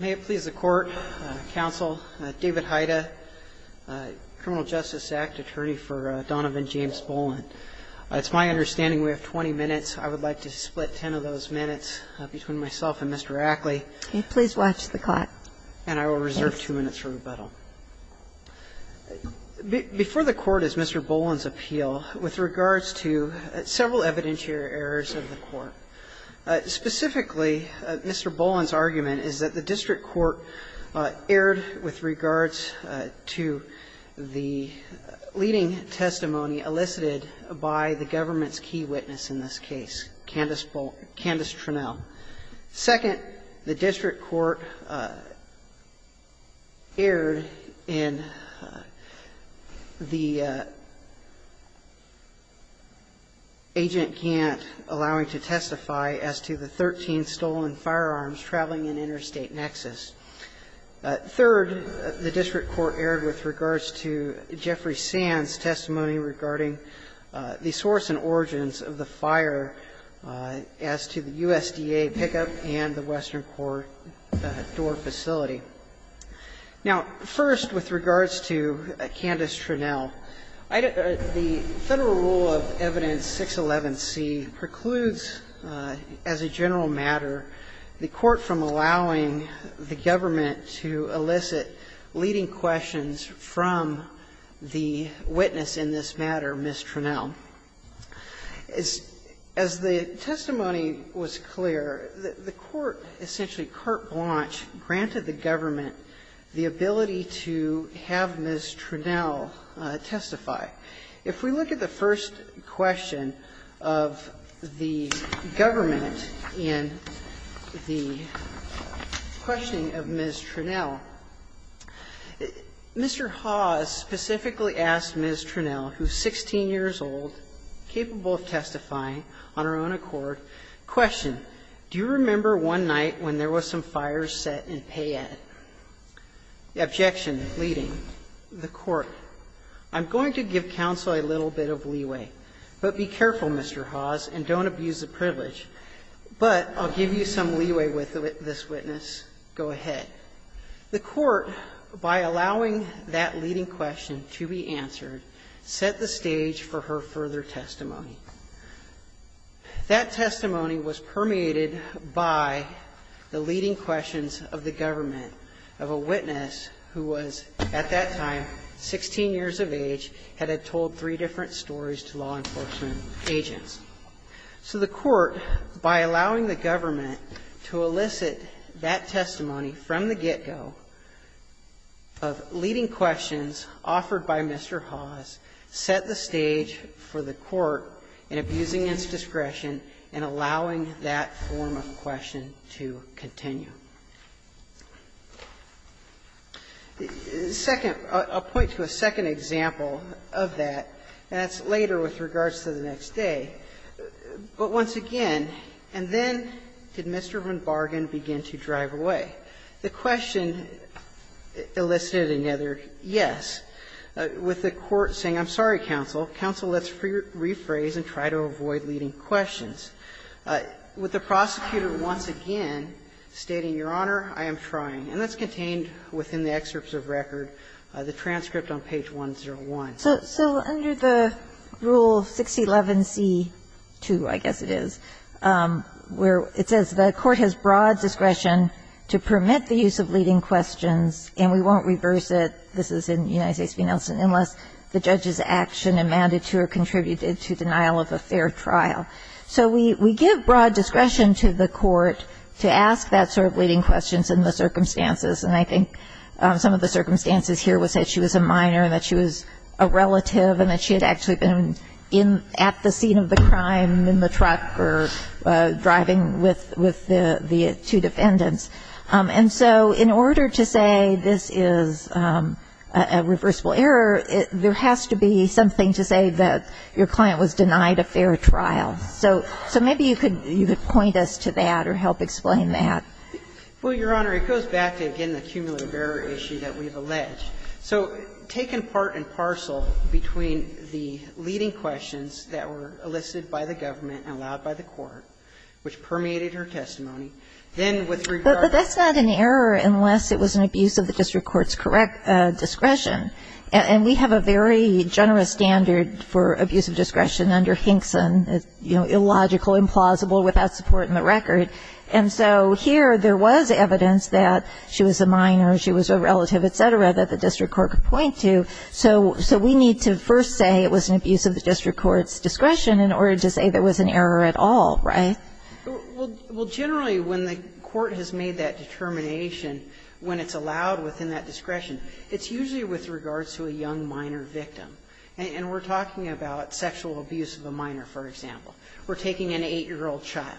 May it please the Court, Counsel, David Haida, Criminal Justice Act Attorney for Donovan James Bolen. It's my understanding we have 20 minutes. I would like to split 10 of those minutes between myself and Mr. Ackley. Can you please watch the clock? And I will reserve two minutes for rebuttal. Before the Court is Mr. Bolen's appeal with regards to several evidentiary errors of the Court, specifically, Mr. Bolen's argument is that the district court erred with regards to the leading testimony elicited by the government's key witness in this case, Candace Tronell. Second, the district court erred in the agent Gantt allowing to testify as to the 13 stolen firearms traveling in interstate nexus. Third, the district court erred with regards to Jeffrey Sands' testimony regarding the source and origins of the fire as to the USDA pickup and the Western Court door facility. Now, first, with regards to Candace Tronell, the Federal Rule of Evidence 611C precludes as a general matter the Court from allowing the government to elicit leading questions from the witness in this matter, Ms. Tronell. As the testimony was clear, the Court essentially carte blanche granted the government the ability to have Ms. Tronell testify. If we look at the first question of the government in the questioning of Ms. Tronell, Mr. Hawes specifically asked Ms. Tronell, who is 16 years old, capable of testifying on her own accord, question, do you remember one night when there was some fire set in Payette? The objection leading the Court, I'm going to give counsel a little bit of leeway, but be careful, Mr. Hawes, and don't abuse the privilege, but I'll give you some leeway with this witness. Go ahead. The Court, by allowing that leading question to be answered, set the stage for her further testimony. That testimony was permeated by the leading questions of the government of a witness who was at that time 16 years of age, had told three different stories to law enforcement agents. So the Court, by allowing the government to elicit that testimony from the get-go, of leading questions offered by Mr. Hawes, set the stage for the Court in abusing its discretion in allowing that form of question to continue. The second – I'll point to a second example of that, and that's later with regards to the next day, but once again, and then did Mr. Van Bargen begin to drive away. The question elicited another yes, with the Court saying, I'm sorry, counsel, counsel, let's rephrase and try to avoid leading questions. With the prosecutor once again stating, Your Honor, I am trying. And that's contained within the excerpts of record, the transcript on page 101. So under the Rule 611c2, I guess it is, where it says the Court has broad discretion to permit the use of leading questions, and we won't reverse it, this is in United States v. Nelson, unless the judge's action amounted to or contributed to denial of a fair trial. So we give broad discretion to the Court to ask that sort of leading questions in the circumstances, and I think some of the circumstances here was that she was a minor, and that she was a relative, and that she had actually been at the scene of the crime in the truck, or driving with the two defendants. And so in order to say this is a reversible error, there has to be something to say that your client was denied a fair trial. So maybe you could point us to that or help explain that. Well, Your Honor, it goes back to, again, the cumulative error issue that we have alleged. So taking part in parcel between the leading questions that were elicited by the government and allowed by the Court, which permeated her testimony, then with regard to the fact that she was denied a fair trial, that's not an error unless it was an abuse of the district court's correct discretion. And we have a very generous standard for abuse of discretion under Hinkson, illogical, implausible, without support in the record. And so here there was evidence that she was a minor, she was a relative, et cetera, that the district court could point to. So we need to first say it was an abuse of the district court's discretion in order to say there was an error at all, right? Well, generally, when the Court has made that determination, when it's allowed within that discretion, it's usually with regards to a young minor victim. And we're talking about sexual abuse of a minor, for example. We're taking an 8-year-old child.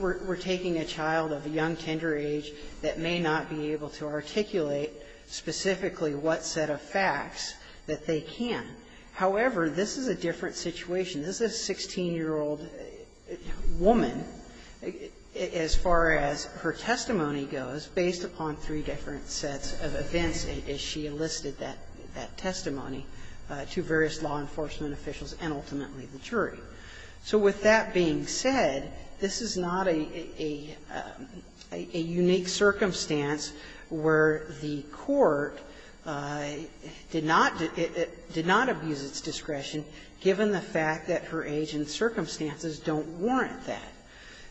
We're taking a child of a young tender age that may not be able to articulate specifically what set of facts that they can. However, this is a different situation. This is a 16-year-old woman, as far as her testimony goes, based upon three different sets of events as she enlisted that testimony to various law enforcement officials and ultimately the jury. So with that being said, this is not a unique circumstance where the Court did not abuse its discretion, given the fact that her age and circumstances don't warrant that.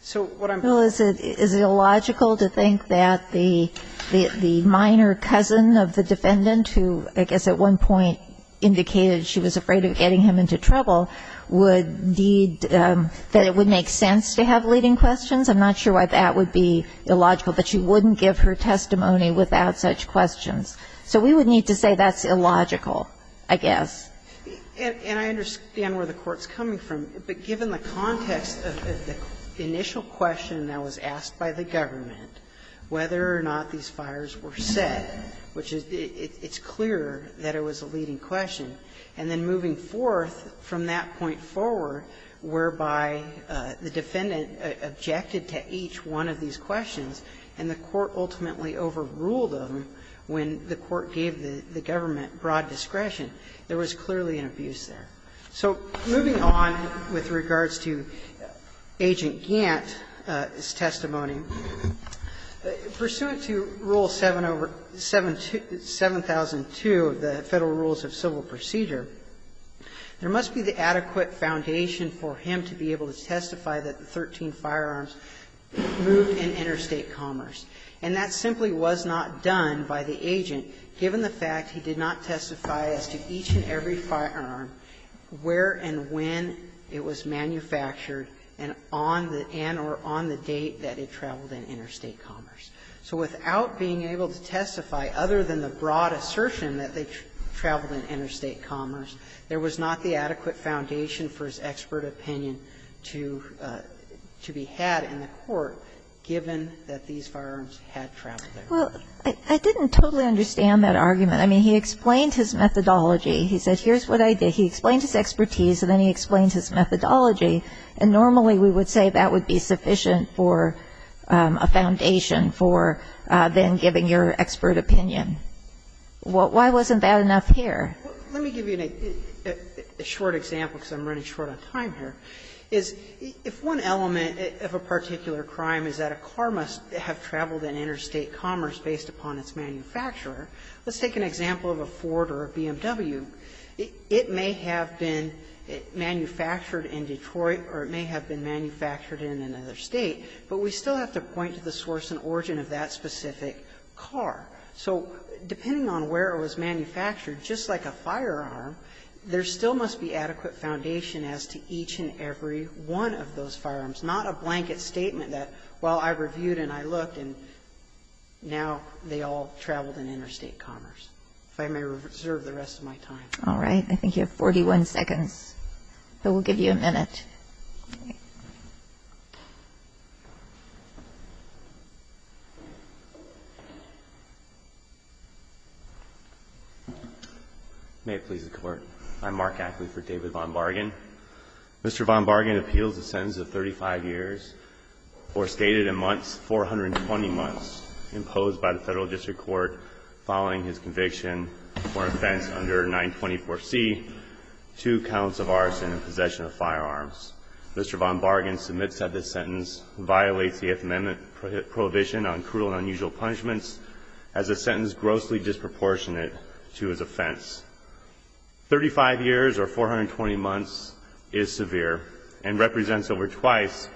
So what I'm trying to say is that it would be illogical to think that the minor cousin of the defendant, who I guess at one point indicated she was afraid of getting him into trouble, would need that it would make sense to have leading questions. I'm not sure why that would be illogical, but she wouldn't give her testimony without such questions. So we would need to say that's illogical. I guess. And I understand where the Court's coming from, but given the context of the initial question that was asked by the government, whether or not these fires were set, which is the – it's clear that it was a leading question, and then moving forth from that point forward, whereby the defendant objected to each one of these questions, and the Court ultimately overruled them when the Court gave the government broad discretion, there was clearly an abuse there. So moving on with regards to Agent Gantt's testimony, pursuant to Rule 7002 of the Federal Rules of Civil Procedure, there must be the adequate foundation for him to be able to testify that the 13 firearms moved in interstate commerce. And that simply was not done by the agent, given the fact he did not testify as to each and every firearm, where and when it was manufactured, and on the – and or on the date that it traveled in interstate commerce. So without being able to testify, other than the broad assertion that they traveled in interstate commerce, there was not the adequate foundation for his expert opinion to be had in the Court, given that these firearms had traveled there. Well, I didn't totally understand that argument. I mean, he explained his methodology. He said, here's what I did. He explained his expertise, and then he explained his methodology. And normally we would say that would be sufficient for a foundation for then giving your expert opinion. Why wasn't that enough here? Let me give you a short example, because I'm running short on time here. If one element of a particular crime is that a car must have traveled in interstate commerce based upon its manufacturer, let's take an example of a Ford or a BMW. It may have been manufactured in Detroit or it may have been manufactured in another State, but we still have to point to the source and origin of that specific car. So depending on where it was manufactured, just like a firearm, there still must be adequate foundation as to each and every one of those firearms, not a blanket statement that, well, I reviewed and I looked, and now they all traveled in interstate commerce. If I may reserve the rest of my time. All right. I think you have 41 seconds, but we'll give you a minute. May it please the Court. I'm Mark Ackley for David Von Bargan. Mr. Von Bargan appeals the sentence of 35 years or stated in months, 420 months imposed by the Federal District Court following his conviction or offense under 924C, two counts of arson and possession of firearms. Mr. Von Bargan submits that this sentence violates the Fifth Amendment prohibition on cruel and unusual punishments as a sentence grossly disproportionate to his offense. Thirty-five years or 420 months is severe and represents over twice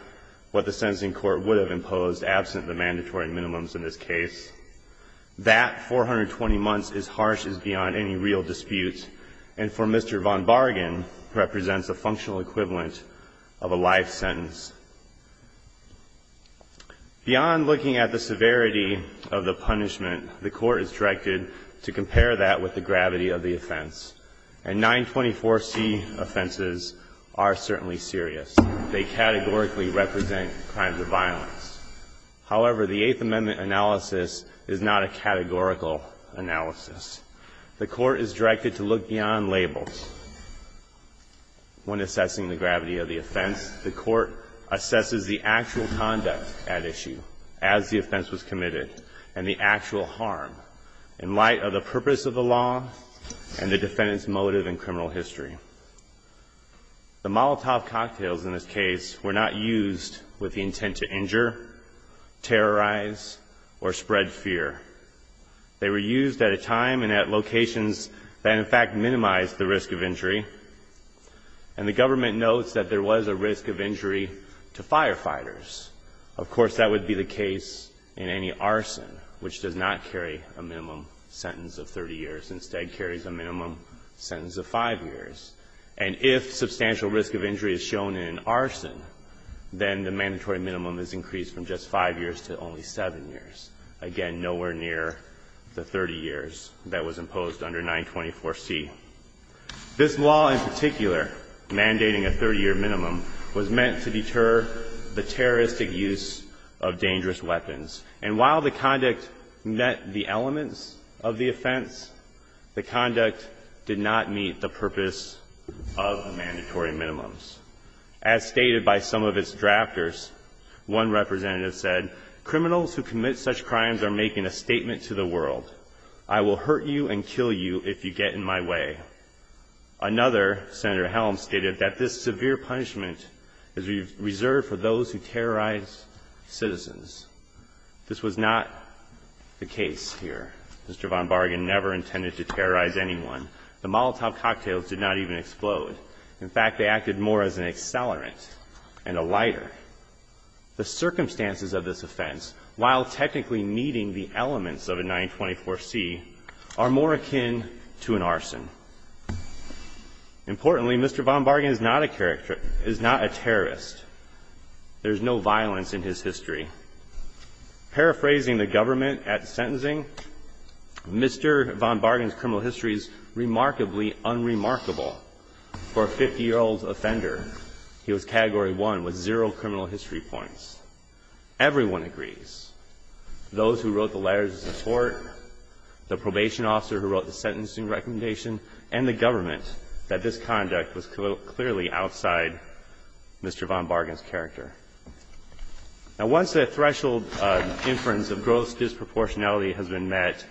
what the sentencing court would have imposed absent the mandatory minimums in this case. That 420 months is harsh as beyond any real dispute, and for Mr. Von Bargan, represents a functional equivalent of a life sentence. Beyond looking at the severity of the punishment, the Court is directed to compare that with the gravity of the offense, and 924C offenses are certainly serious. They categorically represent crimes of violence. However, the Eighth Amendment analysis is not a categorical analysis. The Court is directed to look beyond labels. When assessing the gravity of the offense, the Court assesses the actual conduct at issue as the offense was committed and the actual harm. In light of the purpose of the law and the defendant's motive in criminal history. The Molotov cocktails in this case were not used with the intent to injure, terrorize, or spread fear. They were used at a time and at locations that in fact minimized the risk of injury, and the government notes that there was a risk of injury to firefighters. Of course, that would be the case in any arson, which does not carry a minimum sentence of 30 years, instead carries a minimum sentence of 5 years. And if substantial risk of injury is shown in an arson, then the mandatory minimum is increased from just 5 years to only 7 years, again, nowhere near the 30 years that was imposed under 924C. This law in particular, mandating a 30-year minimum, was meant to deter the terrorist use of dangerous weapons. And while the conduct met the elements of the offense, the conduct did not meet the purpose of mandatory minimums. As stated by some of its drafters, one representative said, criminals who commit such crimes are making a statement to the world. I will hurt you and kill you if you get in my way. Another, Senator Helms, stated that this severe punishment is reserved for those who terrorize citizens. This was not the case here. Mr. Von Bargen never intended to terrorize anyone. The Molotov cocktails did not even explode. In fact, they acted more as an accelerant and a lighter. The circumstances of this offense, while technically meeting the elements of a 924C, are more akin to an arson. Importantly, Mr. Von Bargen is not a terrorist. There's no violence in his history. Paraphrasing the government at sentencing, Mr. Von Bargen's criminal history is remarkably unremarkable for a 50-year-old offender. He was category one with zero criminal history points. Everyone agrees. Those who wrote the letters of support, the probation officer who wrote the sentencing recommendation, and the government, that this conduct was clearly outside Mr. Von Bargen's character. Now, once that threshold inference of gross disproportionality has been met,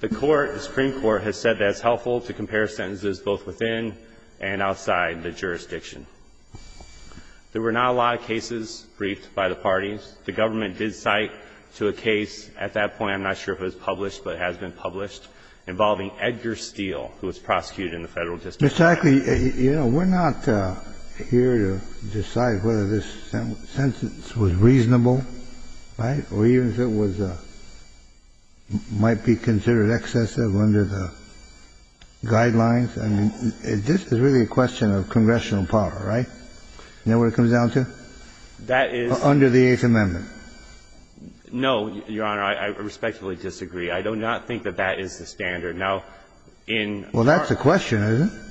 the Court, the Supreme Court, has said that it's helpful to compare sentences both within and outside the jurisdiction. There were not a lot of cases briefed by the parties. The government did cite to a case at that point, I'm not sure if it was published, but it has been published, involving Edgar Steele, who was prosecuted in the Federal District Court. Mr. Ackley, you know, we're not here to decide whether this sentence was reasonable, right, or even if it was the – might be considered excessive under the guidelines. I mean, this is really a question of congressional power, right? You know what it comes down to? That is – Under the Eighth Amendment. No, Your Honor, I respectfully disagree. I do not think that that is the standard. Now, in our – Well, that's the question, isn't it?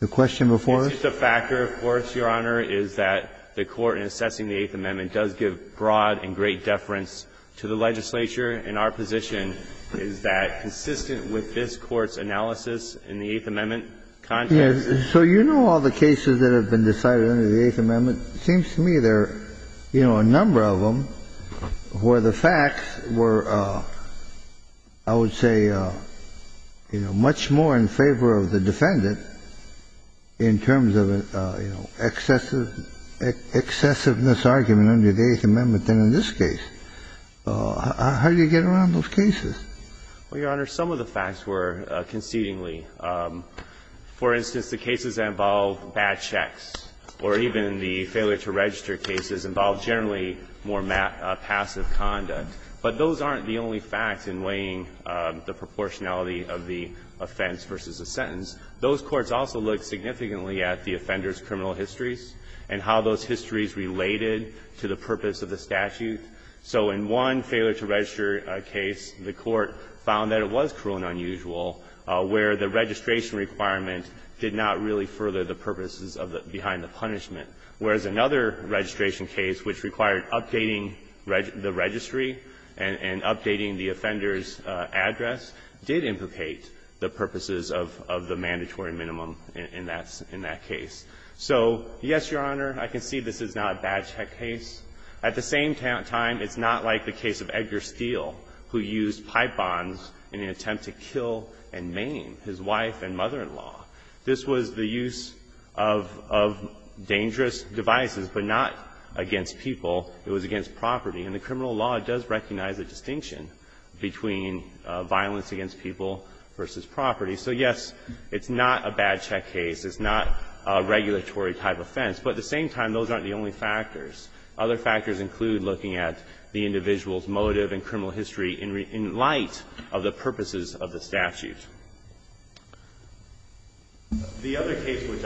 The question before us? It's just a factor, of course, Your Honor, is that the Court in assessing the Eighth Amendment does give broad and great deference to the legislature, and our position is that consistent with this Court's analysis in the Eighth Amendment context – So you know all the cases that have been decided under the Eighth Amendment. It seems to me there are, you know, a number of them where the facts were, I would say, you know, much more in favor of the defendant in terms of an excessive – excessiveness argument under the Eighth Amendment than in this case. How do you get around those cases? Well, Your Honor, some of the facts were concedingly. For instance, the cases that involve bad checks or even the failure to register cases involve generally more passive conduct. But those aren't the only facts in weighing the proportionality of the offense versus a sentence. Those courts also looked significantly at the offender's criminal histories and how those histories related to the purpose of the statute. So in one failure to register case, the Court found that it was cruel and unusual where the registration requirement did not really further the purposes of the – behind the punishment, whereas another registration case which required updating the registry and updating the offender's address did implicate the purposes of the mandatory minimum in that case. So, yes, Your Honor, I can see this is not a bad check case. At the same time, it's not like the case of Edgar Steele, who used pipe bombs in an apartment in Maine, his wife and mother-in-law. This was the use of dangerous devices, but not against people. It was against property. And the criminal law does recognize a distinction between violence against people versus property. So, yes, it's not a bad check case. It's not a regulatory type offense. But at the same time, those aren't the only factors. Other factors include looking at the individual's motive and criminal history in light of the purposes of the statute. The other case which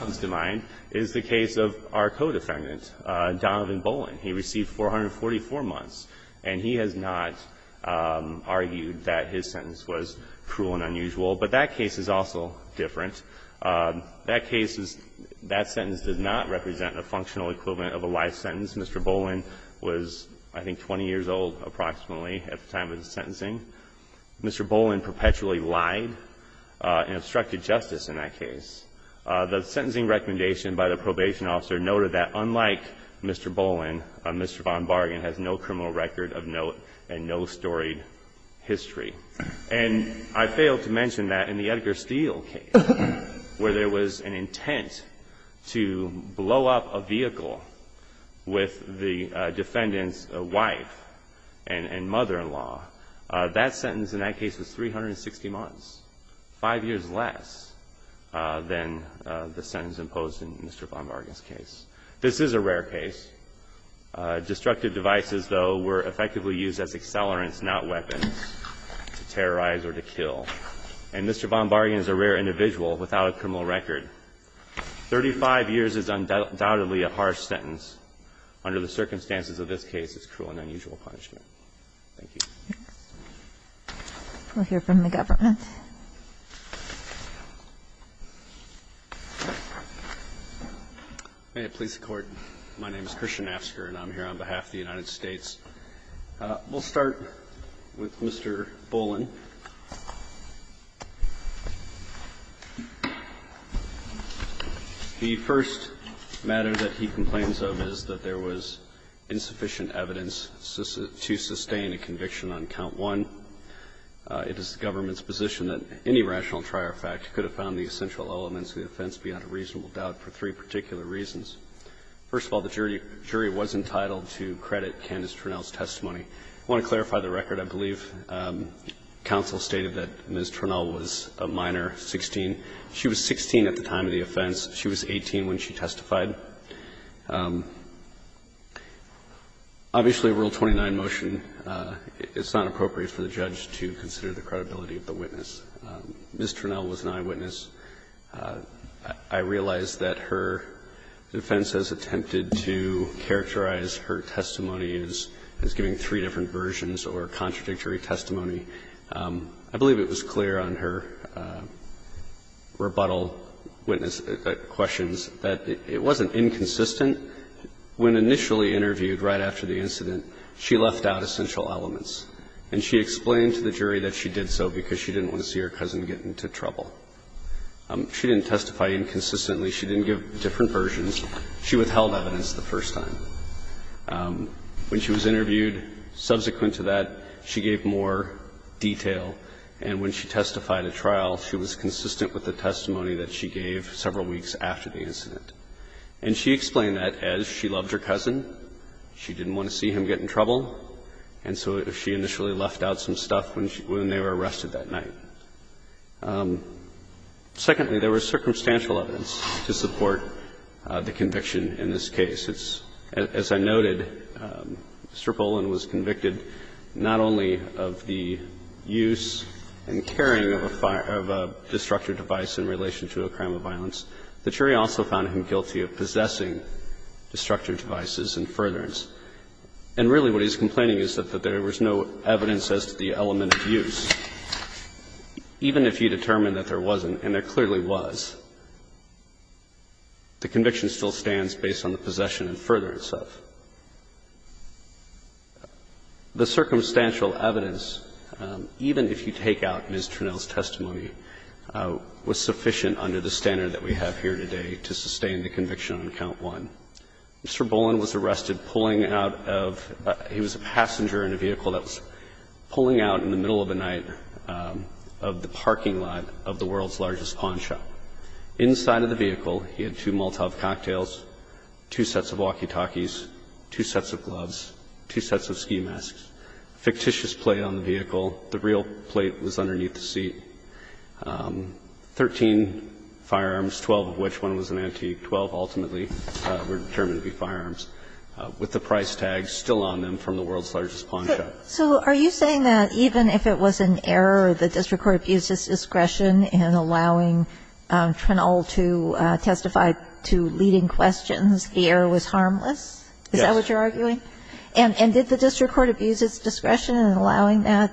comes to mind is the case of our co-defendant, Donovan Bolin. He received 444 months, and he has not argued that his sentence was cruel and unusual. But that case is also different. That case is – that sentence does not represent a functional equivalent of a life sentence. Mr. Bolin was, I think, 20 years old approximately at the time of the sentencing. Mr. Bolin perpetually lied and obstructed justice in that case. The sentencing recommendation by the probation officer noted that, unlike Mr. Bolin, Mr. von Bargan has no criminal record of note and no storied history. And I failed to mention that in the Edgar Steele case, where there was an intent to blow up a vehicle with the defendant's wife and mother-in-law, that sentence in that case was 360 months, 5 years less than the sentence imposed in Mr. von Bargan's case. This is a rare case. Destructive devices, though, were effectively used as accelerants, not weapons to terrorize or to kill. And Mr. von Bargan is a rare individual without a criminal record. Thirty-five years is undoubtedly a harsh sentence. Under the circumstances of this case, it's cruel and unusual punishment. Thank you. We'll hear from the government. May it please the Court. My name is Christian Asker, and I'm here on behalf of the United States. We'll start with Mr. Bolin. The first matter that he complains of is that there was insufficient evidence to sustain a conviction on count one. It is the government's position that any rational trier fact could have found the essential elements of the offense beyond a reasonable doubt for three particular reasons. First of all, the jury was entitled to credit Candace Trinnell's testimony. I want to clarify the record. I believe counsel stated that Ms. Trinnell was a minor, 16. She was 16 at the time of the offense. She was 18 when she testified. Obviously, Rule 29 motion, it's not appropriate for the judge to consider the credibility of the witness. Ms. Trinnell was an eyewitness. I realize that her defense has attempted to characterize her testimony as giving three different versions or contradictory testimony. I believe it was clear on her rebuttal witness questions that it wasn't inconsistent. When initially interviewed right after the incident, she left out essential elements, and she explained to the jury that she did so because she didn't want to see her cousin get into trouble. She didn't testify inconsistently. She didn't give different versions. She withheld evidence the first time. When she was interviewed subsequent to that, she gave more detail. And when she testified at trial, she was consistent with the testimony that she gave several weeks after the incident. And she explained that as she loved her cousin, she didn't want to see him get in trouble, and so she initially left out some stuff when they were arrested that night. Secondly, there was circumstantial evidence to support the conviction in this case. As I noted, Mr. Poland was convicted not only of the use and carrying of a fire of a destructive device in relation to a crime of violence. The jury also found him guilty of possessing destructive devices and furtherance. And really what he's complaining is that there was no evidence as to the element of use. Even if you determined that there wasn't, and there clearly was, the conviction still stands based on the possession and furtherance of. The circumstantial evidence, even if you take out Ms. Trinnell's testimony, was sufficient under the standard that we have here today to sustain the conviction on count one. Mr. Poland was arrested pulling out of he was a passenger in a vehicle that was pulling out in the middle of the night of the parking lot of the world's largest pawn shop. Inside of the vehicle, he had two Molotov cocktails, two sets of walkie-talkies, two sets of gloves, two sets of ski masks, a fictitious plate on the vehicle. The real plate was underneath the seat. Thirteen firearms, twelve of which one was an antique. Twelve ultimately were determined to be firearms, with the price tag still on them from the world's largest pawn shop. So are you saying that even if it was an error, the district court abused its discretion in allowing Trinnell to testify to leading questions, the error was harmless? Is that what you're arguing? Yes. And did the district court abuse its discretion in allowing that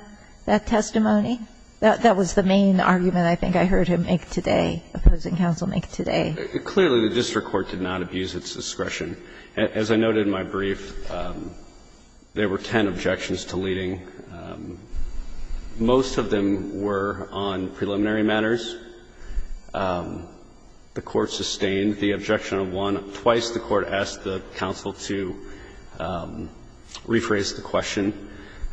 testimony? That was the main argument I think I heard him make today, opposing counsel make today. Clearly, the district court did not abuse its discretion. Most of them were on preliminary matters. The court sustained the objection of one. Twice, the court asked the counsel to rephrase the question.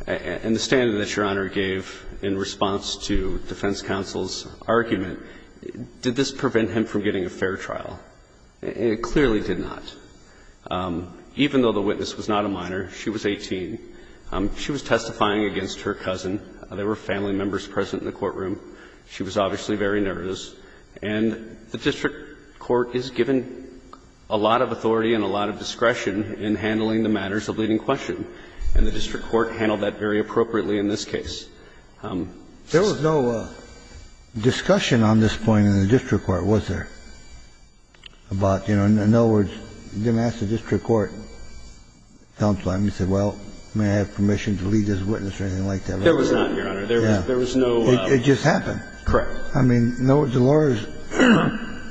And the statement that Your Honor gave in response to defense counsel's argument, did this prevent him from getting a fair trial? It clearly did not. Even though the witness was not a minor, she was 18. She was testifying against her cousin. There were family members present in the courtroom. She was obviously very nervous. And the district court is given a lot of authority and a lot of discretion in handling the matters of leading question. And the district court handled that very appropriately in this case. There was no discussion on this point in the district court, was there, about, you know, in other words, you didn't ask the district court, counsel, and you said, well, may I have permission to lead this witness or anything like that? There was not, Your Honor. There was no ---- It just happened. Correct. I mean, Delores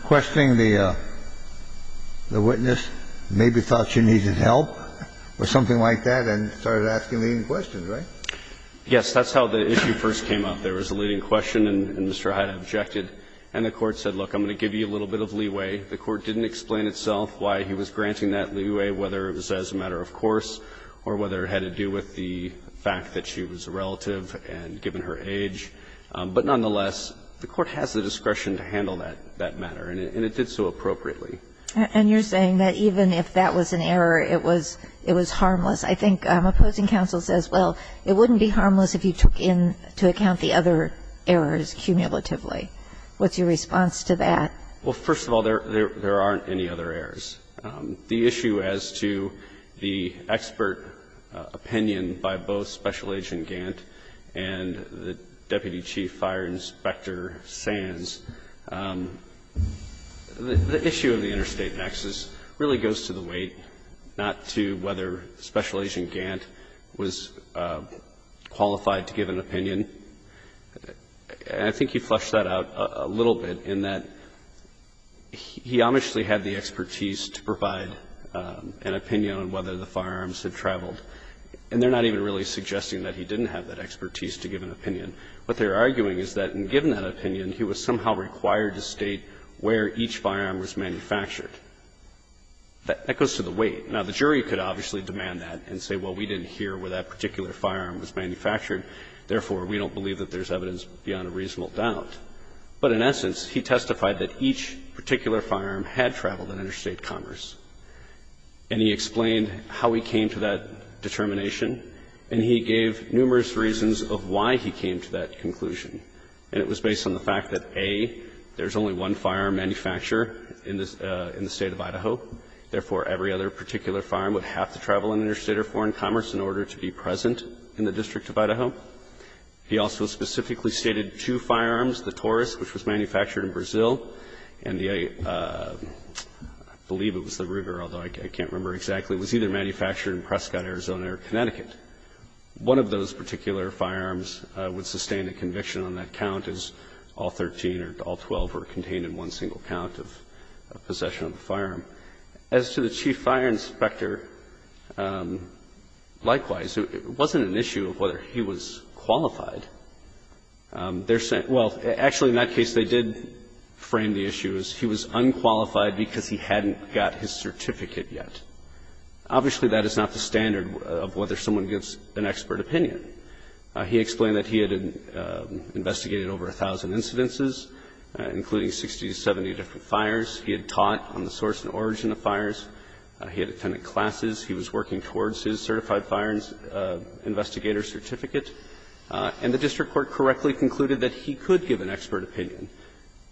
questioning the witness, maybe thought she needed help or something like that, and started asking leading questions, right? Yes. That's how the issue first came up. There was a leading question, and Mr. Hyde objected. And the court said, look, I'm going to give you a little bit of leeway. The court didn't explain itself why he was granting that leeway, whether it was as a matter of course or whether it had to do with the fact that she was a relative and given her age. But nonetheless, the court has the discretion to handle that matter, and it did so appropriately. And you're saying that even if that was an error, it was harmless. I think opposing counsel says, well, it wouldn't be harmless if you took into account the other errors cumulatively. What's your response to that? Well, first of all, there aren't any other errors. The issue as to the expert opinion by both Special Agent Gant and the Deputy Chief Fire Inspector Sands, the issue of the interstate nexus really goes to the weight not to whether Special Agent Gant was qualified to give an opinion. I think he flushed that out a little bit in that he obviously had the expertise to provide an opinion on whether the firearms had traveled. And they're not even really suggesting that he didn't have that expertise to give an opinion. What they're arguing is that in giving that opinion, he was somehow required to state where each firearm was manufactured. That goes to the weight. Now, the jury could obviously demand that and say, well, we didn't hear where that particular firearm was manufactured. Therefore, we don't believe that there's evidence beyond a reasonable doubt. But in essence, he testified that each particular firearm had traveled in interstate commerce. And he explained how he came to that determination, and he gave numerous reasons of why he came to that conclusion. And it was based on the fact that, A, there's only one firearm manufacturer in the State of Idaho. Therefore, every other particular firearm would have to travel in interstate or foreign commerce in order to be present in the District of Idaho. He also specifically stated two firearms, the Taurus, which was manufactured in Brazil, and the, I believe it was the Ruger, although I can't remember exactly, was either manufactured in Prescott, Arizona, or Connecticut. One of those particular firearms would sustain a conviction on that count as all 13 or all 12 were contained in one single count of possession of the firearm. As to the chief fire inspector, likewise, it wasn't an issue of whether he was qualified. They're saying – well, actually, in that case, they did frame the issue as he was unqualified because he hadn't got his certificate yet. Obviously, that is not the standard of whether someone gets an expert opinion. He explained that he had investigated over a thousand incidences, including 60 to 70 different fires. He had taught on the source and origin of fires. He had attended classes. He was working towards his certified fire investigator certificate. And the district court correctly concluded that he could give an expert opinion.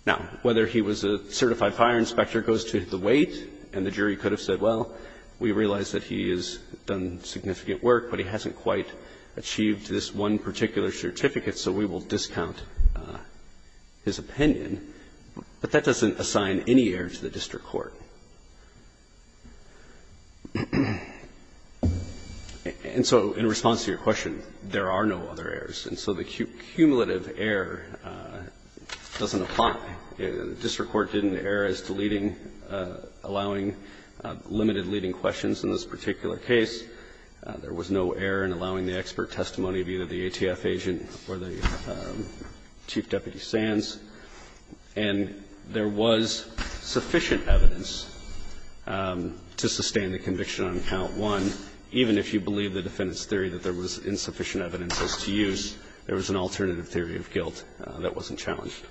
Now, whether he was a certified fire inspector goes to the weight, and the jury could have said, well, we realize that he has done significant work, but he hasn't quite achieved this one particular certificate, so we will discount his opinion. But that doesn't assign any error to the district court. And so in response to your question, there are no other errors. And so the cumulative error doesn't apply. The district court did an error as to leading – allowing limited leading questions in this particular case. There was no error in allowing the expert testimony of either the ATF agent or the Chief Deputy Sands. And there was sufficient evidence to sustain the conviction on count one, even if you believe the defendant's theory that there was insufficient evidence as to use, there was an alternative theory of guilt that wasn't challenged.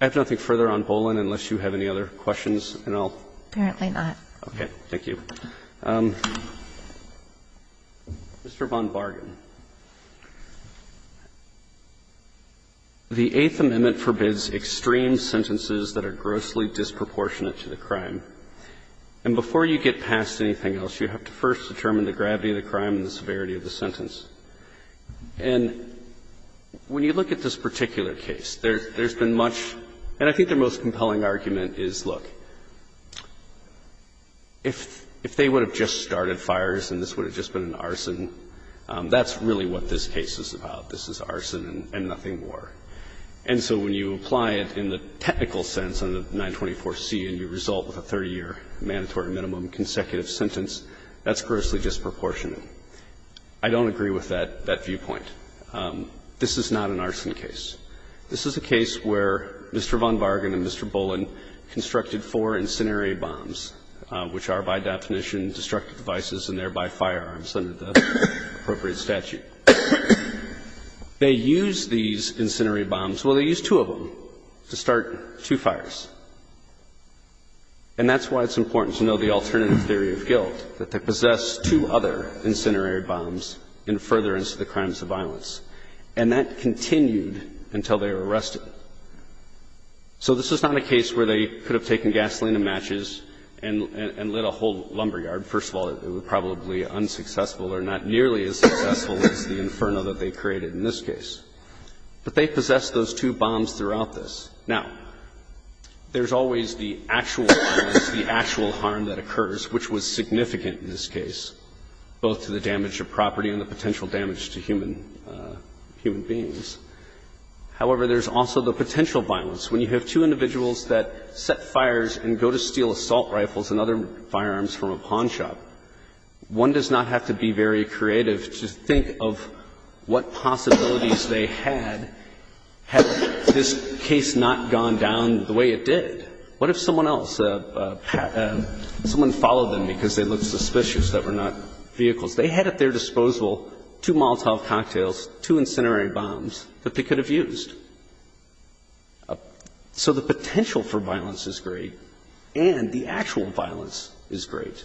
I have nothing further on Boland unless you have any other questions, and I'll – Kagan. Apparently not. Okay. Thank you. Mr. Von Bargan. The Eighth Amendment forbids extreme sentences that are grossly disproportionate to the crime. And before you get past anything else, you have to first determine the gravity of the crime and the severity of the sentence. And when you look at this particular case, there's been much – and I think the most compelling argument is, look, if they would have just started fires and this would have just started fires, that's really what this case is about, this is arson and nothing more. And so when you apply it in the technical sense under 924C and you result with a 30-year mandatory minimum consecutive sentence, that's grossly disproportionate. I don't agree with that viewpoint. This is not an arson case. This is a case where Mr. Von Bargan and Mr. Boland constructed four incendiary bombs, which are by definition destructive devices and thereby firearms under the appropriate statute. They used these incendiary bombs – well, they used two of them to start two fires. And that's why it's important to know the alternative theory of guilt, that they possessed two other incendiary bombs in furtherance of the crimes of violence. And that continued until they were arrested. So this is not a case where they could have taken gasoline and matches and lit a whole lumberyard. First of all, it was probably unsuccessful or not nearly as successful as the inferno that they created in this case. But they possessed those two bombs throughout this. Now, there's always the actual violence, the actual harm that occurs, which was significant in this case, both to the damage of property and the potential damage to human – human beings. However, there's also the potential violence. When you have two individuals that set fires and go to steal assault rifles and other firearms from a pawn shop, one does not have to be very creative to think of what possibilities they had had this case not gone down the way it did. What if someone else, someone followed them because they looked suspicious, that were not vehicles? They had at their disposal two Molotov cocktails, two incendiary bombs that they could have used. So the potential for violence is great, and the actual violence is great.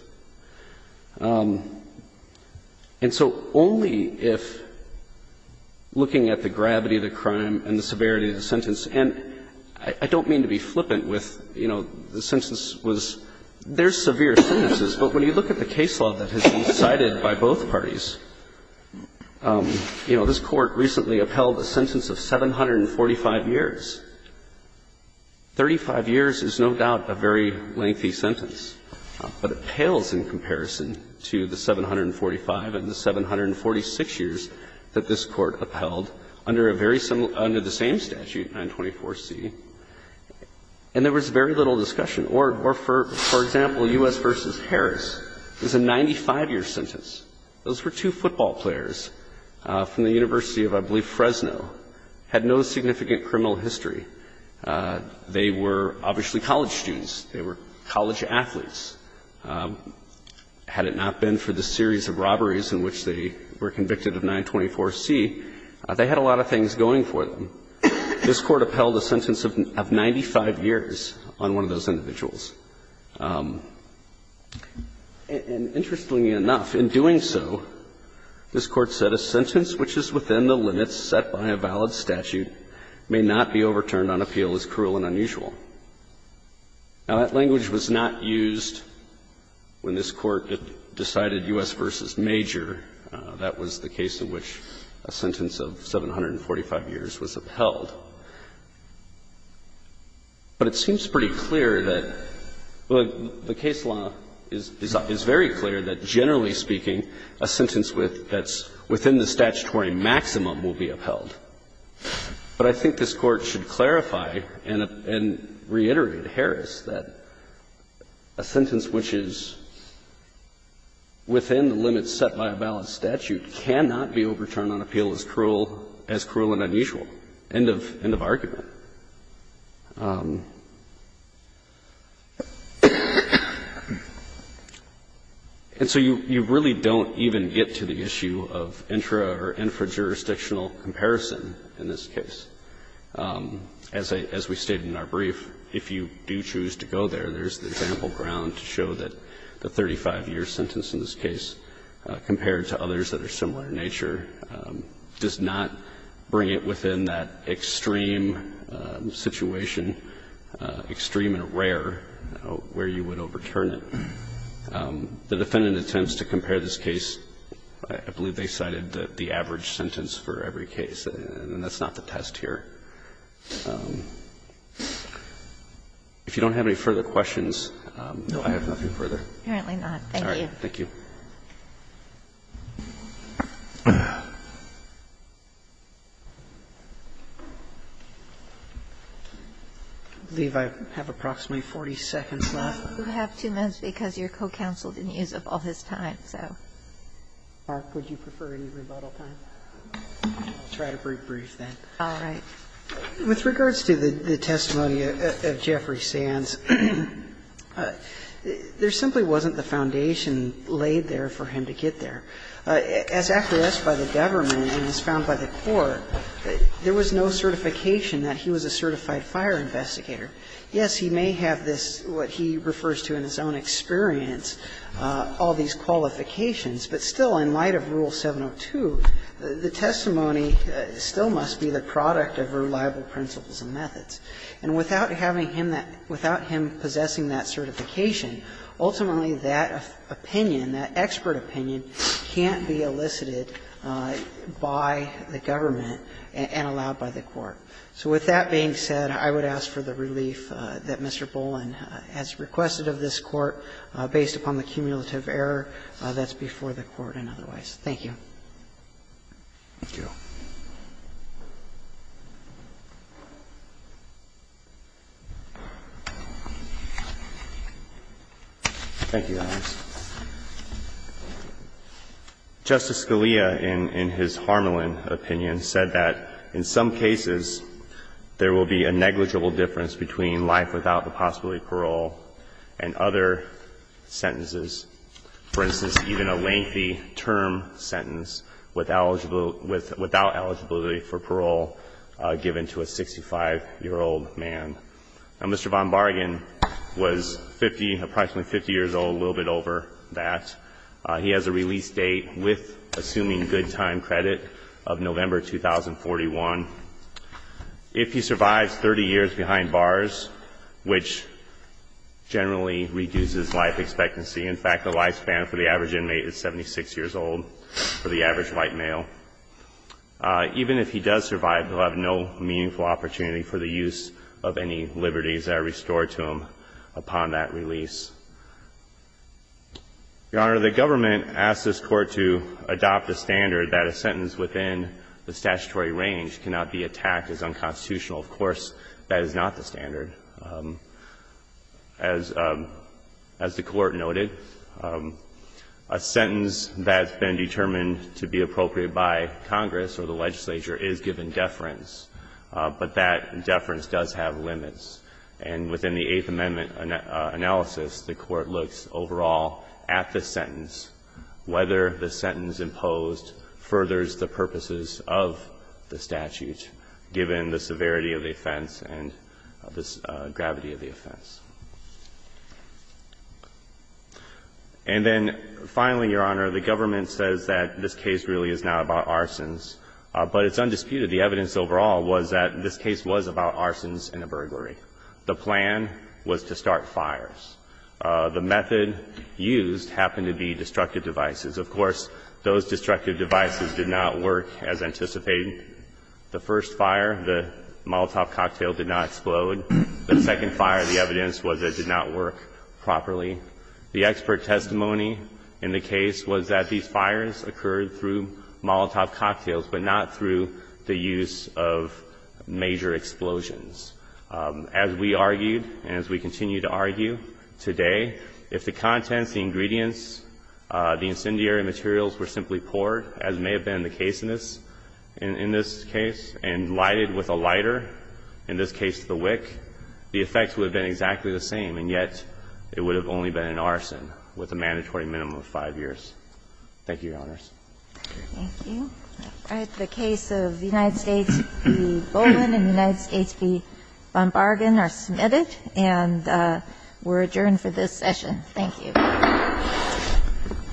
And so only if, looking at the gravity of the crime and the severity of the sentence – and I don't mean to be flippant with, you know, the sentence was – there's no doubt that it was decided by both parties. You know, this Court recently upheld a sentence of 745 years. Thirty-five years is no doubt a very lengthy sentence, but it pales in comparison to the 745 and the 746 years that this Court upheld under a very similar – under the same statute, 924C. And there was very little discussion. For example, U.S. v. Harris is a 95-year sentence. Those were two football players from the University of, I believe, Fresno, had no significant criminal history. They were obviously college students. They were college athletes. Had it not been for the series of robberies in which they were convicted of 924C, they had a lot of things going for them. So this Court upheld a sentence of 95 years on one of those individuals. And interestingly enough, in doing so, this Court said a sentence which is within the limits set by a valid statute may not be overturned on appeal as cruel and unusual. Now, that language was not used when this Court decided U.S. v. Major. That was the case in which a sentence of 745 years was upheld. But it seems pretty clear that the case law is very clear that, generally speaking, a sentence that's within the statutory maximum will be upheld. But I think this Court should clarify and reiterate Harris that a sentence which is within the limits set by a valid statute cannot be overturned on appeal as cruel and unusual. End of argument. And so you really don't even get to the issue of intra- or infra-jurisdictional comparison in this case. As we stated in our brief, if you do choose to go there, there's the example in the background to show that the 35-year sentence in this case, compared to others that are similar in nature, does not bring it within that extreme situation, extreme and rare, where you would overturn it. The defendant attempts to compare this case. I believe they cited the average sentence for every case. And that's not the test here. If you don't have any further questions, I have nothing further. Apparently not. Thank you. Thank you. I believe I have approximately 40 seconds left. You have two minutes because your co-counsel didn't use up all his time, so. Would you prefer any rebuttal time? I'll try to brief then. All right. With regards to the testimony of Jeffrey Sands, there simply wasn't the foundation laid there for him to get there. As asked by the government and as found by the court, there was no certification that he was a certified fire investigator. Yes, he may have this, what he refers to in his own experience, all these qualifications, but still, in light of Rule 702, the testimony still must be the product of reliable principles and methods. And without having him that – without him possessing that certification, ultimately that opinion, that expert opinion, can't be elicited by the government and allowed by the court. So with that being said, I would ask for the relief that Mr. Boland has requested of this Court, based upon the cumulative error that's before the Court and otherwise. Thank you. Thank you. Thank you, Your Honor. Justice Scalia, in his Harmelin opinion, said that in some cases, there will be a negligible difference between life without the possibility of parole and other sentences. For instance, even a lengthy term sentence without eligibility for parole given to a 65-year-old man. Now, Mr. Von Bargan was 50 – approximately 50 years old, a little bit over that. He has a release date with assuming good time credit of November 2041. If he survives 30 years behind bars, which generally reduces life expectancy – in fact, the lifespan for the average inmate is 76 years old, for the average white male – even if he does survive, he'll have no meaningful opportunity for the use of any liberties that are restored to him upon that release. Your Honor, the government asked this Court to adopt the standard that a sentence within the statutory range cannot be attacked as unconstitutional. Of course, that is not the standard. As the Court noted, a sentence that's been determined to be appropriate by Congress or the legislature is given deference, but that deference does have limits. And within the Eighth Amendment analysis, the Court looks overall at the sentence, whether the sentence imposed furthers the purposes of the statute, given the severity of the offense and the gravity of the offense. And then finally, Your Honor, the government says that this case really is now about arsons, but it's undisputed. The evidence overall was that this case was about arsons and a burglary. The plan was to start fires. The method used happened to be destructive devices. Of course, those destructive devices did not work as anticipated. The first fire, the Molotov cocktail, did not explode. The second fire, the evidence was that it did not work properly. The expert testimony in the case was that these fires occurred through Molotov cocktails, but not through the use of major explosions. As we argued and as we continue to argue today, if the contents, the ingredients, the incendiary materials were simply poured, as may have been the case in this case, and lighted with a lighter, in this case the wick, the effects would have been exactly the same, and yet it would have only been an arson with a mandatory minimum of 5 years. Thank you, Your Honors. Thank you. All right. The case of the United States v. Bowman and the United States v. Von Bargan are submitted and we're adjourned for this session. Thank you.